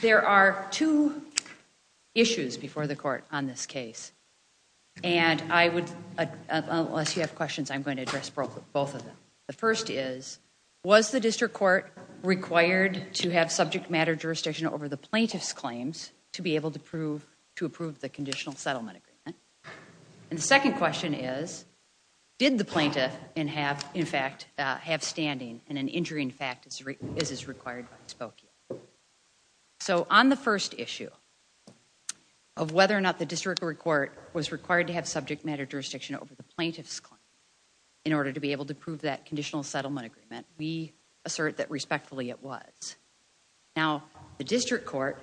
There are two issues before the court on this case, and I would, unless you have questions, I'm going to address both of them. The first is, was the district court required to have subject matter jurisdiction over the plaintiff's claims to be able to approve the conditional settlement agreement? And the second question is, did the plaintiff in fact have standing and an injury in fact is as required by the Spokane? So on the first issue of whether or not the district court was required to have subject matter jurisdiction over the plaintiff's claim in order to be able to prove that conditional settlement agreement, we assert that respectfully it was. Now the district court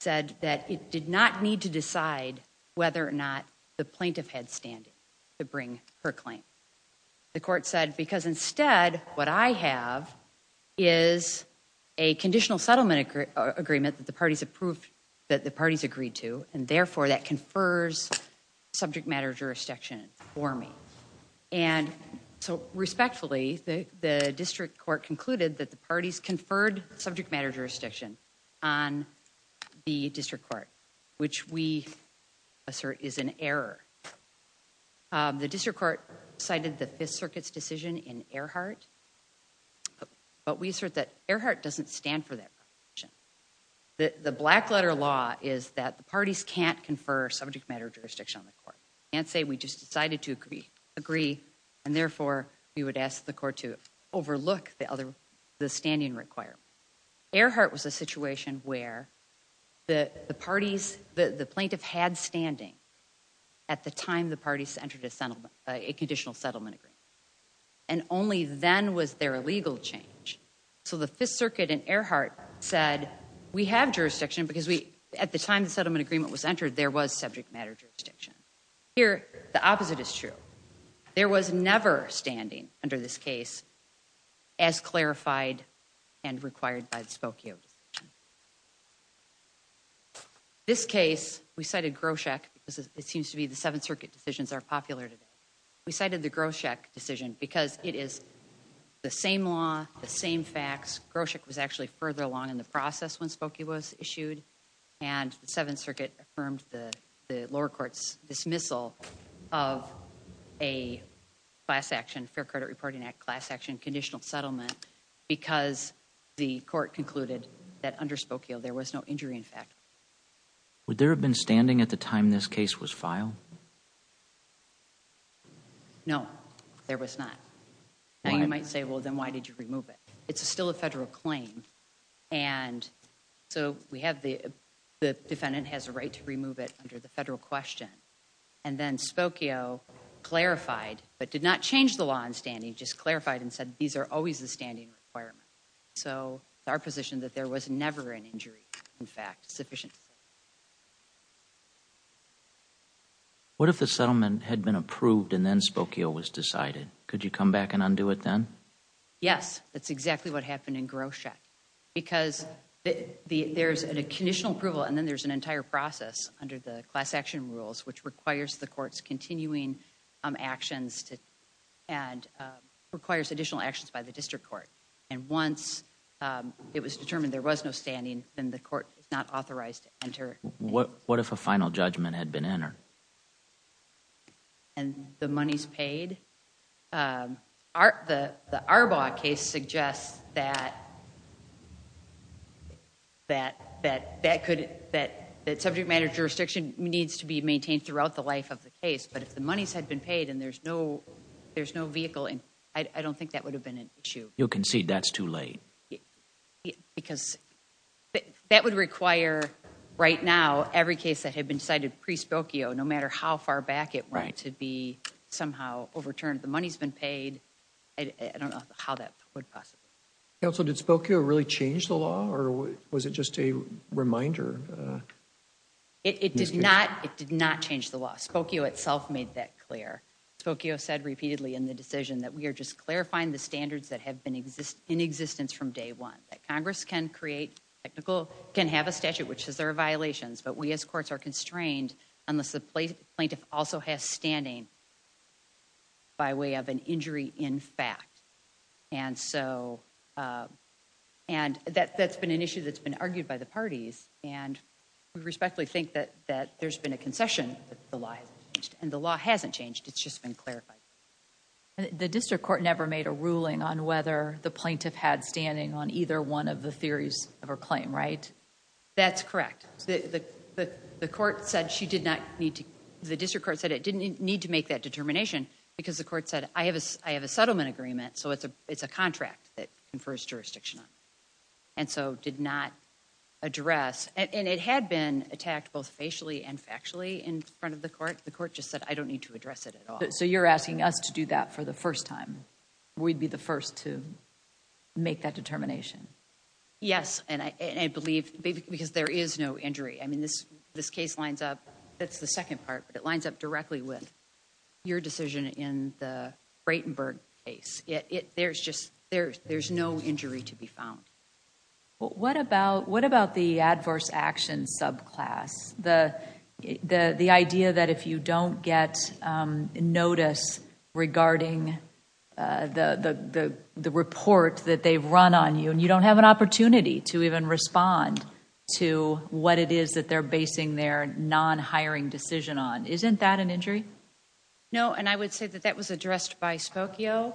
said that it did not need to decide whether or not the plaintiff had standing to bring her is a conditional settlement agreement that the parties approved, that the parties agreed to, and therefore that confers subject matter jurisdiction for me. And so respectfully, the district court concluded that the parties conferred subject matter jurisdiction on the district court, which we assert is an But we assert that Earhart doesn't stand for that. The black letter law is that the parties can't confer subject matter jurisdiction on the court. Can't say we just decided to agree and therefore we would ask the court to overlook the other, the standing requirement. Earhart was a situation where the parties, the plaintiff had standing at the time the parties entered a So the Fifth Circuit and Earhart said we have jurisdiction because we at the time the settlement agreement was entered there was subject matter jurisdiction. Here the opposite is true. There was never standing under this case as clarified and required by the Spokio decision. This case we cited Groshek because it seems to be the Seventh Circuit decisions are popular today. We cited the same law, the same facts. Groshek was actually further along in the process when Spokio was issued and the Seventh Circuit affirmed the lower court's dismissal of a class action, Fair Credit Reporting Act class action conditional settlement because the court concluded that under Spokio there was no injury in fact. Would there have been standing at the time this case was filed? No, there was not. Now you might say well then why did you remove it? It's still a federal claim and so we have the defendant has a right to remove it under the federal question and then Spokio clarified but did not change the law in standing just clarified and said these are always the standing requirement. So our position that there was never an injury in fact sufficient. What if the settlement had been approved and then Spokio was decided? Could you come back and undo it then? Yes, that's exactly what happened in Groshek because there's a conditional approval and then there's an entire process under the class action rules which requires the court's continuing actions to and requires additional actions by the district court and once it was determined there was no standing then the court is not authorized to enter. What what if a and the money's paid? The Arbaugh case suggests that that that that could that that subject matter jurisdiction needs to be maintained throughout the life of the case but if the money's had been paid and there's no there's no vehicle and I don't think that would have been an issue. You'll concede that's too late. Because that would require right now every case that had been decided pre somehow overturned. The money's been paid. I don't know how that would pass. Counsel did Spokio really change the law or was it just a reminder? It did not it did not change the law. Spokio itself made that clear. Spokio said repeatedly in the decision that we are just clarifying the standards that have been exist in existence from day one. That Congress can create technical can have a statute which says there are violations but we as courts are constrained unless the plaintiff also has standing by way of an injury in fact. And so and that that's been an issue that's been argued by the parties and we respectfully think that that there's been a concession that the law has changed and the law hasn't changed it's just been clarified. The district court never made a ruling on whether the plaintiff had standing on either one of the theories of her claim right? That's correct. The court said she did not need to the district court said it didn't need to make that determination because the court said I have a I have a settlement agreement so it's a it's a contract that confers jurisdiction on. And so did not address and it had been attacked both facially and factually in front of the court. The court just said I don't need to address it at all. So you're asking us to do that for the first time? We'd be the first to make that determination. Yes and I believe because there is no injury I mean this this case lines up that's the second part but it lines up directly with your decision in the Breitenberg case. It there's just there's there's no injury to be found. Well what about what about the adverse action subclass? The the the idea that if you don't get notice regarding the the report that they've run on you and you don't have an opportunity to even respond to what it is that they're basing their non-hiring decision on. Isn't that an injury? No and I would say that that was addressed by Spokio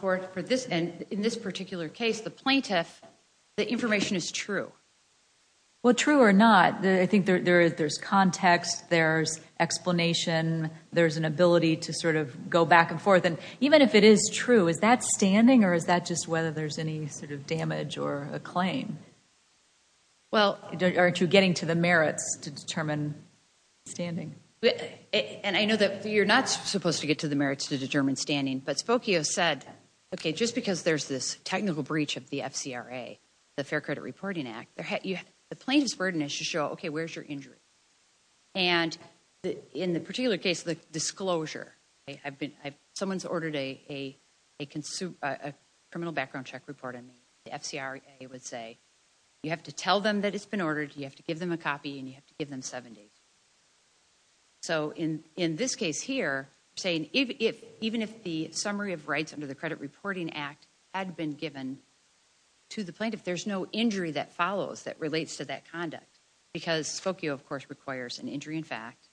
for for this and in this particular case the plaintiff the information is true. Well true or not I think there is there's context there's explanation there's an ability to sort of go back and forth and even if it is true is that standing or is that just whether there's any sort of damage or a claim? Well aren't you getting to the merits to determine standing? And I know that you're not supposed to get to the merits to determine standing but Spokio said okay just because there's this technical breach of the FCRA, the Fair Credit Reporting Act, the plaintiff's burden is to show okay where's your injury and in the particular case the disclosure I've been someone's ordered a a consumed a criminal background check report on me the FCRA would say you have to tell them that it's been ordered you have to give them a copy and you have to give them 70. So in in this case here saying if even if the summary of rights under the Credit Reporting Act had been given to the plaintiff there's no injury that follows that relates to that conduct because Spokio of course requires an injury in fact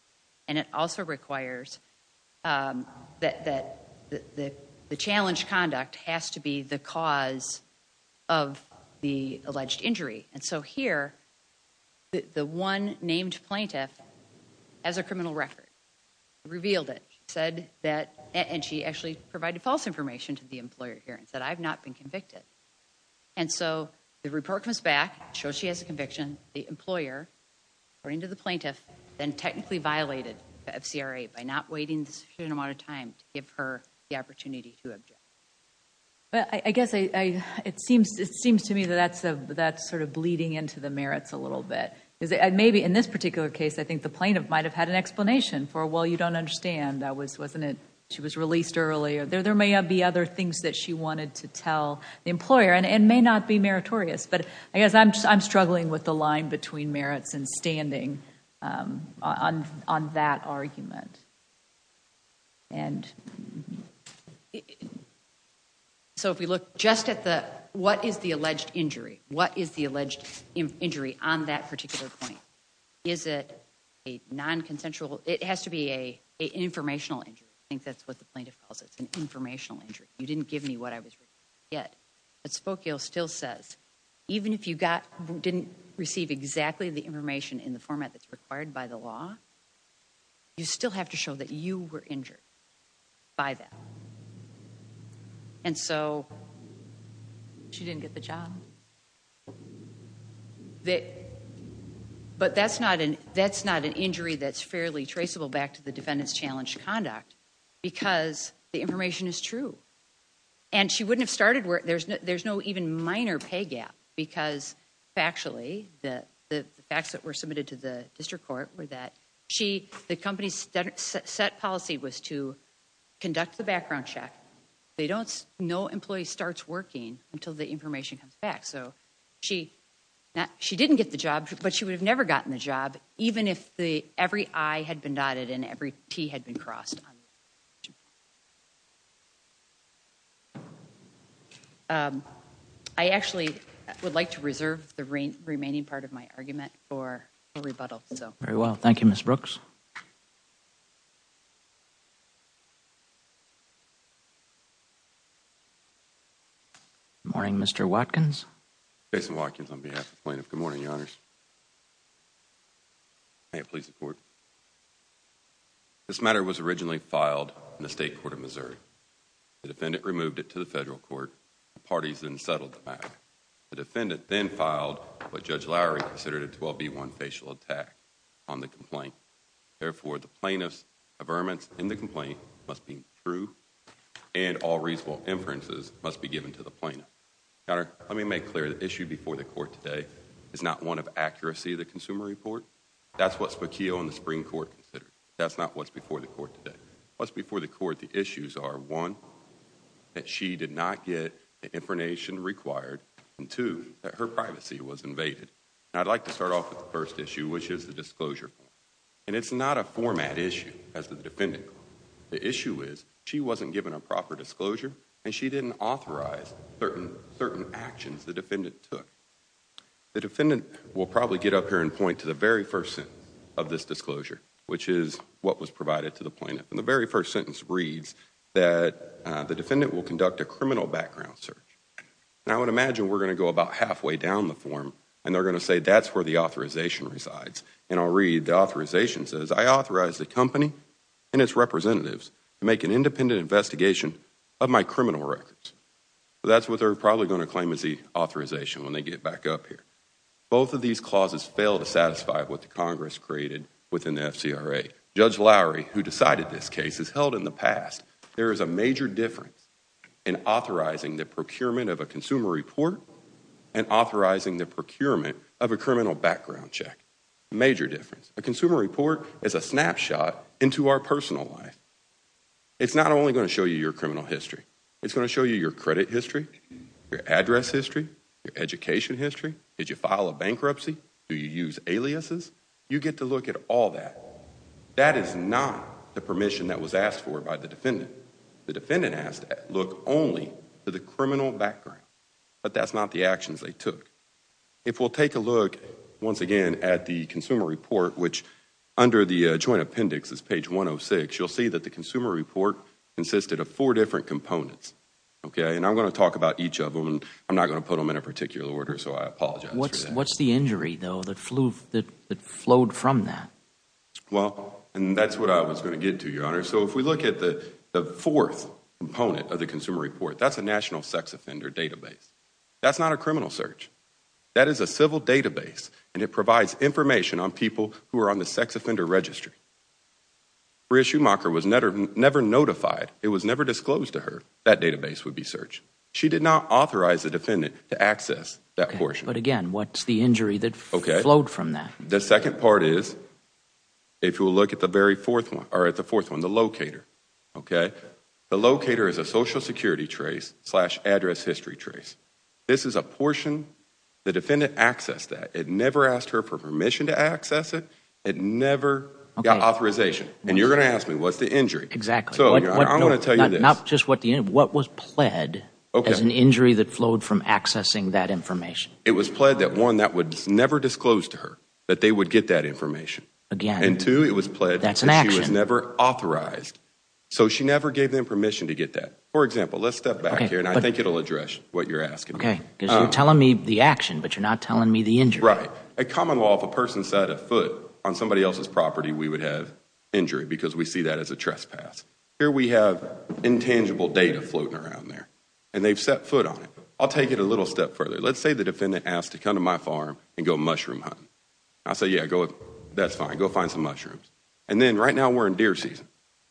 and it also requires that the the challenge conduct has to be the cause of the alleged injury and so here the one named plaintiff as a criminal record revealed it said that and she actually provided false information to the employer here and said I've not been convicted and so the report comes back shows she has a by not waiting a certain amount of time to give her the opportunity to object. I guess it seems it seems to me that that's a that's sort of bleeding into the merits a little bit is it maybe in this particular case I think the plaintiff might have had an explanation for well you don't understand that was wasn't it she was released earlier there there may have be other things that she wanted to tell the employer and it may not be meritorious but I guess I'm struggling with the line between merits and standing on on that argument and so if we look just at the what is the alleged injury what is the alleged injury on that particular point is it a non-consensual it has to be a informational injury I think that's what the plaintiff calls it's an informational injury you didn't give me what I was yet but Spokio still says even if you got didn't receive exactly the information in the format that's required by the law you still have to show that you were injured by that and so she didn't get the job that but that's not an that's not an injury that's fairly traceable back to the defendants challenged conduct because the information is true and she wouldn't have started where there's no there's no even minor pay gap because actually the facts that were submitted to the district court were that she the company's set policy was to conduct the background check they don't know employees starts working until the information comes back so she not she didn't get the job but she would have never gotten the job even if the every I had been dotted in every T had been crossed I actually would like to reserve the rain remaining part of my argument for a rebuttal so very well thank you miss Brooks morning mr. Watkins Jason Watkins on behalf of plaintiff good morning your please support this matter was originally filed in the state court of Missouri the defendant removed it to the federal court parties and settled the back the defendant then filed but judge Lowry considered it will be one facial attack on the complaint therefore the plaintiffs averments in the complaint must be true and all reasonable inferences must be given to the plaintiff let me make clear the issue before the court today is not one of accuracy the consumer report that's what's Paquio in the Supreme Court that's not what's before the court today what's before the court the issues are one that she did not get the information required and two that her privacy was invaded I'd like to start off with the first issue which is the disclosure and it's not a format issue as the defendant the issue is she wasn't given a proper disclosure and she didn't authorize certain certain actions the defendant took the defendant will probably get up here and point to the very first sentence of this disclosure which is what was provided to the plaintiff and the very first sentence reads that the defendant will conduct a criminal background search now I would imagine we're going to go about halfway down the form and they're going to say that's where the authorization resides and I'll read the authorization says I authorized the company and its representatives to make an independent investigation of my criminal records that's what they're probably going to claim is the authorization when they get back up here both of these clauses fail to satisfy what the Congress created within the FCRA Judge Lowry who decided this case is held in the past there is a major difference in authorizing the procurement of a consumer report and authorizing the procurement of a criminal background check major difference a consumer report is a show you your criminal history it's going to show you your credit history your address history your education history did you file a bankruptcy do you use aliases you get to look at all that that is not the permission that was asked for by the defendant the defendant has to look only to the criminal background but that's not the actions they took if we'll take a look once again at the consumer report which under the joint appendix is page 106 you'll see that the consumer report consisted of four different components okay and I'm going to talk about each of them and I'm not going to put them in a particular order so I apologize what's what's the injury though that flew that flowed from that well and that's what I was going to get to your honor so if we look at the fourth component of the consumer report that's a national sex offender database that's not a criminal search that is a civil database and it provides information on people who are on the sex offender registry for issue marker was never never notified it was never disclosed to her that database would be searched she did not authorize the defendant to access that portion but again what's the injury that okay load from that the second part is if you'll look at the very fourth one or at the fourth one the locator okay the locator is a social security trace slash address history trace this is a portion the defendant access that it never asked her for permission to access it it never got asked me what's the injury exactly not just what the end what was pled as an injury that flowed from accessing that information it was pled that one that would never disclosed to her that they would get that information again and to it was pled that's an action was never authorized so she never gave them permission to get that for example let's step back here and I think it'll address what you're asking okay you're telling me the action but you're not telling me the injury a common law if a person set a foot on somebody else's see that as a trespass here we have intangible data floating around there and they've set foot on it I'll take it a little step further let's say the defendant asked to come to my farm and go mushroom hunt I'll say yeah go that's fine go find some mushrooms and then right now we're in deer season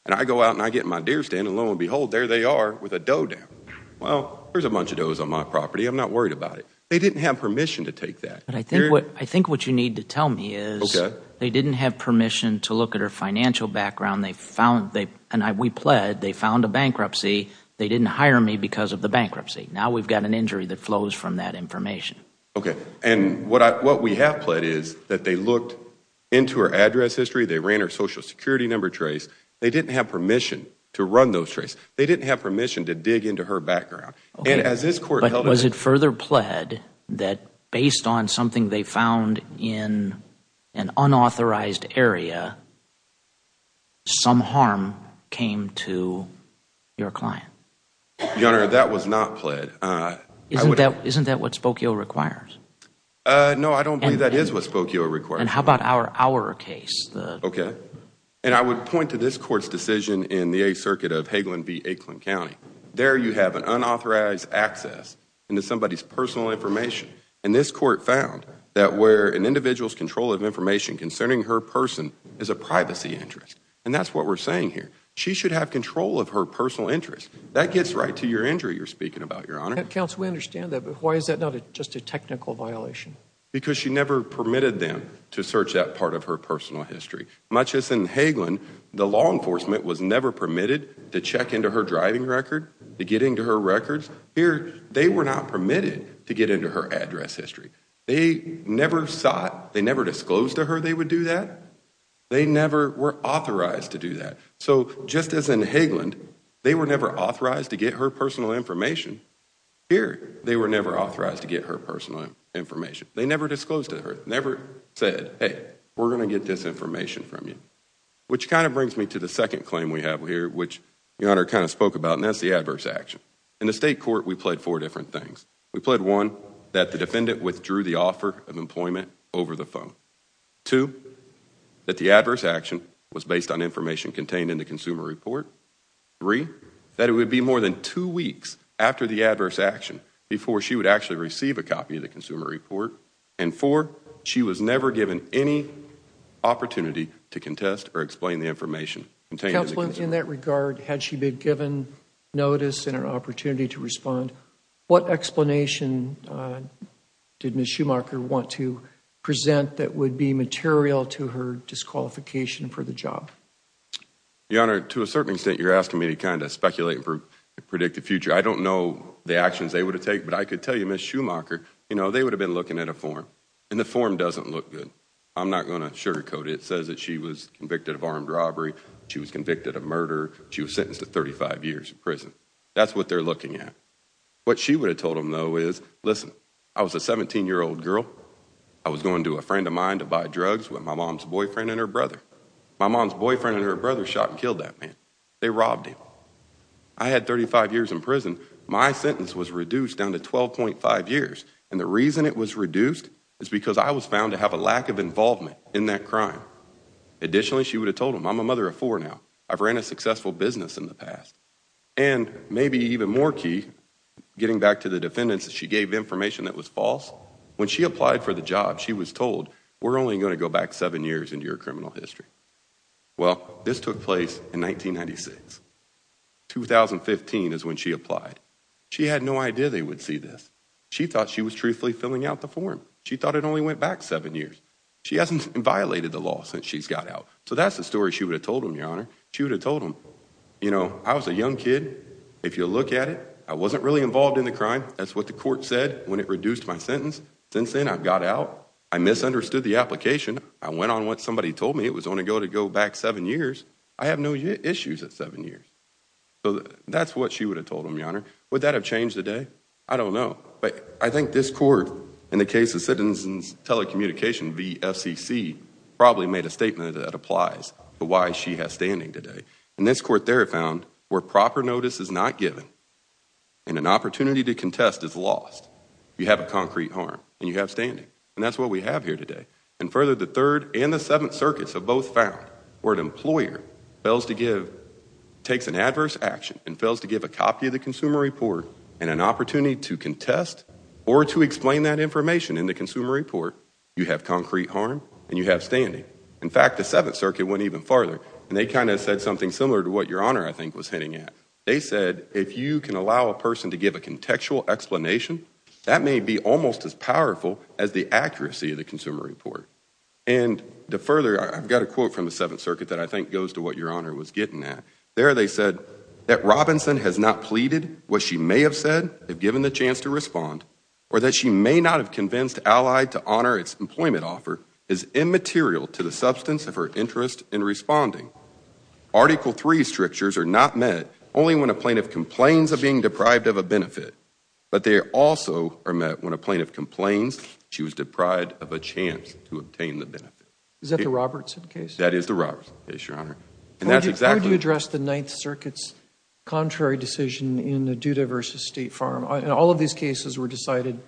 and I go out and I get my deer stand and lo and behold there they are with a doe down well there's a bunch of does on my property I'm not worried about it they didn't have permission to take that but I think what I think what you need to tell me is okay they didn't have permission to look at her financial background they found they and I we pled they found a bankruptcy they didn't hire me because of the bankruptcy now we've got an injury that flows from that information okay and what I what we have pled is that they looked into her address history they ran her social security number trace they didn't have permission to run those trace they didn't have permission to dig into her background and as this court was it further pled that based on something they found in an unauthorized area some harm came to your client your honor that was not pled isn't that isn't that what Spokio requires no I don't think that is what Spokio required how about our our case okay and I would point to this court's decision in the a circuit of Hagelin v. Aklan County there you have an unauthorized access into somebody's personal information and this court found that where an individual's control of information concerning her person is a privacy interest and that's what we're saying here she should have control of her personal interest that gets right to your injury you're speaking about your honor counts we understand that but why is that not it just a technical violation because she never permitted them to search that part of her personal history much as in Hagelin the law enforcement was never permitted to check into her driving record to get into her records here they were not permitted to get into her address history they never sought they never disclosed to her they would do that they never were authorized to do that so just as in Hagelin they were never authorized to get her personal information here they were never authorized to get her personal information they never disclosed to her never said hey we're gonna get this information from you which kind of brings me to the second claim we have here which your honor kind of spoke about and that's the adverse action in the state court we played four different things we played one that the defendant withdrew the offer of employment over the phone to that the adverse action was based on information contained in the consumer report three that it would be more than two weeks after the adverse action before she would actually receive a copy of the consumer report and for she was never given any opportunity to contest or explain the information in that regard had she been given notice and an opportunity to respond what explanation did miss Schumacher want to present that would be material to her disqualification for the job your honor to a certain extent you're asking me to kind of speculate and predict the future I don't know the actions they would have take but I could tell you miss Schumacher you know they would have been looking at a form and the form doesn't look good I'm not gonna sugarcoat it says that she was convicted of armed robbery she was convicted of murder she was sentenced to 35 years in prison that's what they're looking at what she would have told him though is listen I was a 17 year old girl I was going to a friend of mine to buy drugs with my mom's boyfriend and her brother my mom's boyfriend and her brother shot and killed that man they robbed him I had 35 years in prison my sentence was reduced down to 12.5 years and the reason it was reduced is because I was found to have a lack of involvement in that crime additionally she would have told him I'm a mother of four now I've been a successful business in the past and maybe even more key getting back to the defendants that she gave information that was false when she applied for the job she was told we're only going to go back seven years into your criminal history well this took place in 1996 2015 is when she applied she had no idea they would see this she thought she was truthfully filling out the form she thought it only went back seven years she hasn't violated the law since she's got out so that's the story she would have told him your honor she would have told him you know I was a young kid if you look at it I wasn't really involved in the crime that's what the court said when it reduced my sentence since then I've got out I misunderstood the application I went on what somebody told me it was only go to go back seven years I have no issues at seven years so that's what she would have told him your honor would that have changed the day I don't know but I think this court in the case of citizens telecommunication B FCC probably made a statement that applies but why she has standing today and this court there found where proper notice is not given and an opportunity to contest is lost you have a concrete harm and you have standing and that's what we have here today and further the third and the seventh circuits have both found where an employer fails to give takes an adverse action and fails to give a copy of the consumer report and an opportunity to contest or to explain that information in the consumer report you have concrete harm and you have standing in fact the Seventh Circuit went even farther and they kind of said something similar to what your honor I think was hitting at they said if you can allow a person to give a contextual explanation that may be almost as powerful as the accuracy of the consumer report and the further I've got a quote from the Seventh Circuit that I think goes to what your honor was getting at there they said that Robinson has not pleaded what she may have said if given the chance to respond or that she may not have convinced allied to honor its employment offer is immaterial to the substance of her interest in responding article three strictures are not met only when a plaintiff complains of being deprived of a benefit but they also are met when a plaintiff complains she was deprived of a chance to obtain the benefit is that the Robertson case that is the Robert is your honor and that's exactly address the Ninth Circuit's decision in the Duda versus State Farm and all of these cases were decided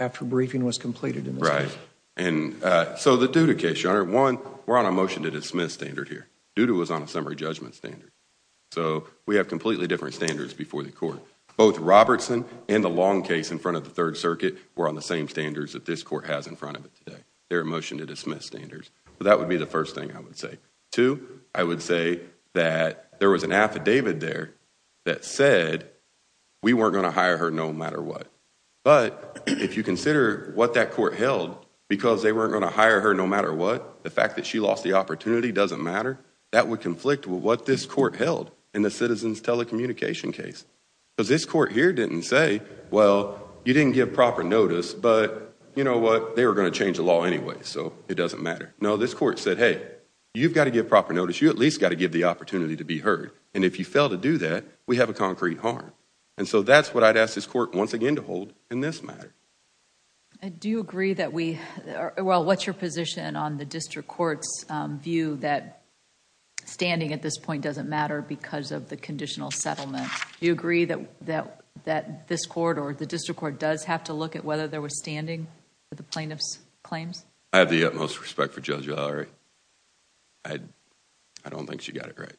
after briefing was completed in the right and so the Duda case your honor one we're on a motion to dismiss standard here Duda was on a summary judgment standard so we have completely different standards before the court both Robertson and the long case in front of the Third Circuit were on the same standards that this court has in front of it today they're a motion to dismiss standards but that would be the first thing I would say to I would say that there was an affidavit there that said we weren't gonna hire her no matter what but if you consider what that court held because they weren't gonna hire her no matter what the fact that she lost the opportunity doesn't matter that would conflict with what this court held in the citizens telecommunication case because this court here didn't say well you didn't give proper notice but you know what they were gonna change the law anyway so it doesn't matter no this court said hey you've got to give proper notice you at least got to give the opportunity to be heard and if you fail to do that we have a concrete harm and so that's what I'd ask this court once again to hold in this matter and do you agree that we well what's your position on the district courts view that standing at this point doesn't matter because of the conditional settlement you agree that that that this court or the district court does have to look at whether there was standing for the plaintiffs claims I have the utmost respect for Judge Lowry I don't think she got it right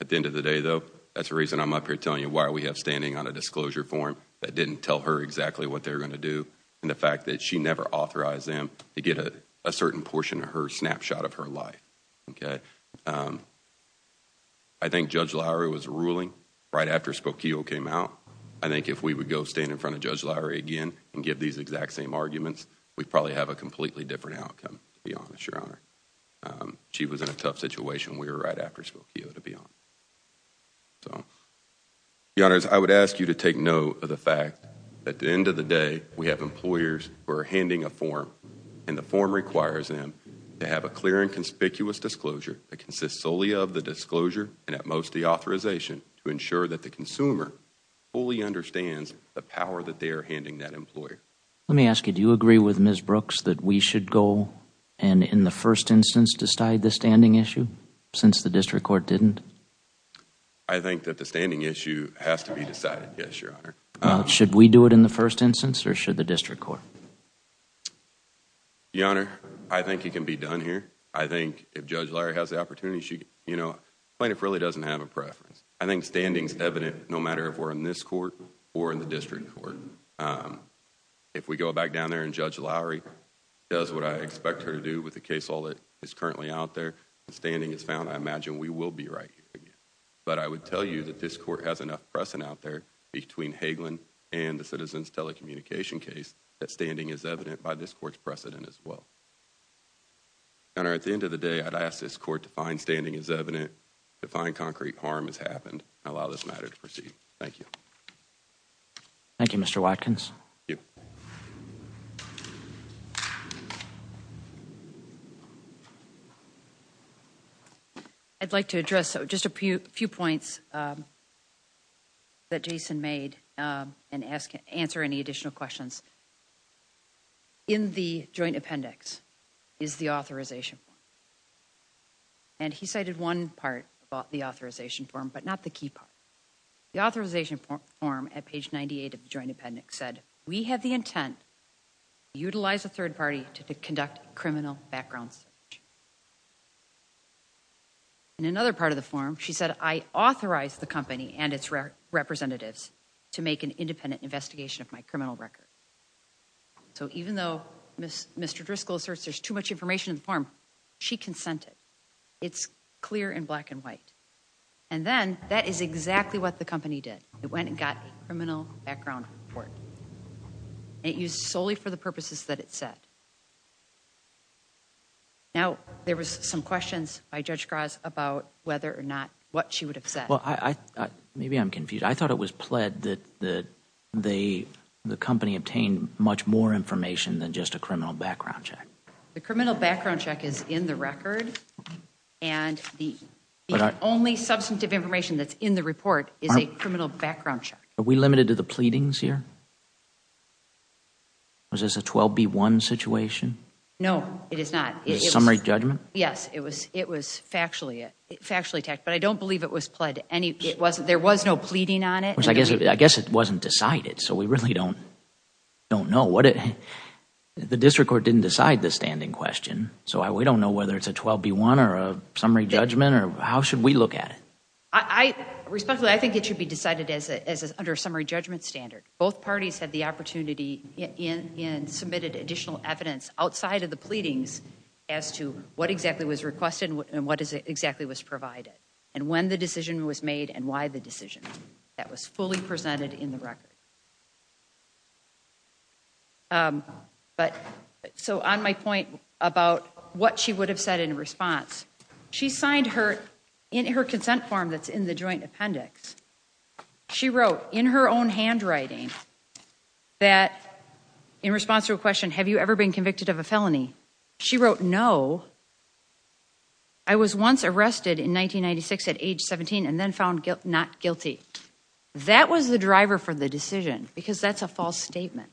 at the end of the day though that's the reason I'm up here telling you why we have standing on a disclosure form that didn't tell her exactly what they're gonna do and the fact that she never authorized them to get a certain portion of her snapshot of her life okay I think Judge Lowry was ruling right after Spokio came out I think if we would go stand in front of Judge Lowry again and give these exact same arguments we probably have a completely different outcome be honest your honor she was in a tough situation we were right after Spokio to be on so the honors I would ask you to take note of the fact at the end of the day we have employers who are handing a form and the form requires them to have a clear and conspicuous disclosure that consists solely of the disclosure and at most the authorization to ensure that the consumer fully understands the power that they are handing that employer let me ask you do you agree with Ms. Brooks that we should go and in the first instance decide the standing issue since the district court didn't I think that the standing issue has to be decided yes your honor should we do it in the first instance or should the district court your honor I think it can be done here I think if Judge Lowry has the opportunity she you know plaintiff really doesn't have a preference I think standing is evident no matter if we're in this court or in the district court if we go back down there and Judge Lowry does what I expect her to do with the case all that is currently out there the standing is found I imagine we will be right but I would tell you that this court has enough precedent out there between Hagelin and the citizens telecommunication case that standing is evident by this courts precedent as well and at the end of the day I'd ask this to find concrete harm has happened I allow this matter to proceed thank you thank you mr. Watkins I'd like to address so just a few few points that Jason made and ask answer any additional questions in the joint appendix is the authorization and he did one part about the authorization form but not the key part the authorization form at page 98 of the joint appendix said we have the intent utilize a third party to conduct criminal backgrounds in another part of the form she said I authorized the company and its representatives to make an independent investigation of my criminal record so even though miss mr. Driscoll asserts there's too much information in the form she consented it's clear in black and white and then that is exactly what the company did it went and got a criminal background report it used solely for the purposes that it said now there was some questions by Judge Graz about whether or not what she would have said well I maybe I'm confused I thought it was pled that the the the company obtained much more information than just a the criminal background check is in the record and the only substantive information that's in the report is a criminal background check are we limited to the pleadings here was this a 12b1 situation no it is not summary judgment yes it was it was factually it factually attacked but I don't believe it was pled any it wasn't there was no pleading on it which I guess I guess it wasn't decided so we really don't don't know what it the district court didn't decide the standing question so I we don't know whether it's a 12b1 or a summary judgment or how should we look at it I respectfully I think it should be decided as under summary judgment standard both parties had the opportunity in in submitted additional evidence outside of the pleadings as to what exactly was requested and what is it exactly was provided and when the decision was made and why the decision that was fully presented in the record but so on my point about what she would have said in response she signed her in her consent form that's in the joint appendix she wrote in her own handwriting that in response to a question have you ever been convicted of a felony she wrote no I was once arrested in 1996 at age 17 and then found guilt not guilty that was the driver for the decision because that's a false statement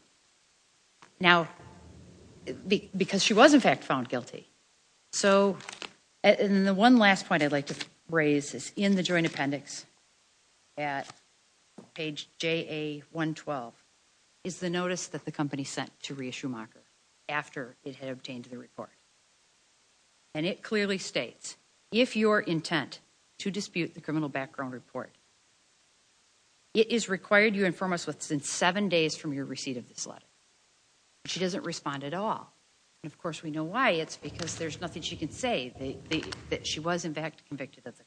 now because she was in fact found guilty so and the one last point I'd like to raise is in the joint appendix at page ja1 12 is the notice that the company sent to reissue marker after it had obtained the report and it clearly states if your background report it is required you inform us what's in seven days from your receipt of this letter she doesn't respond at all and of course we know why it's because there's nothing she can say they think that she was in fact convicted of it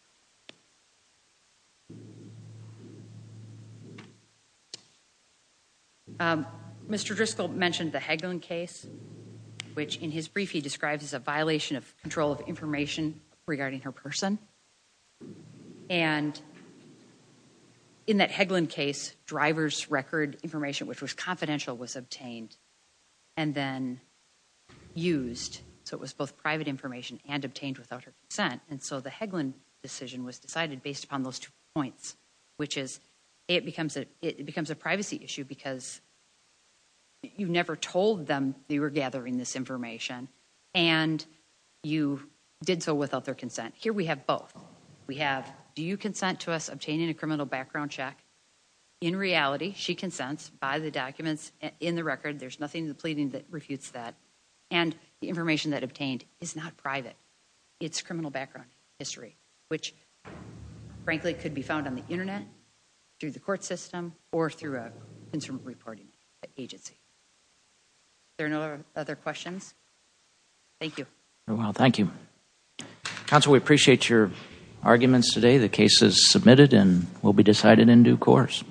mr. Driscoll mentioned the heckling case which in his brief he describes as a and in that heckling case drivers record information which was confidential was obtained and then used so it was both private information and obtained without her consent and so the heckling decision was decided based upon those two points which is it becomes a it becomes a privacy issue because you never told them they were gathering this information and you did so without their we have do you consent to us obtaining a criminal background check in reality she consents by the documents in the record there's nothing the pleading that refutes that and the information that obtained is not private it's criminal background history which frankly could be found on the internet through the court system or through a instrument reporting agency there are no other questions thank you well thank you counsel we appreciate your arguments today the case is submitted and will be decided in due course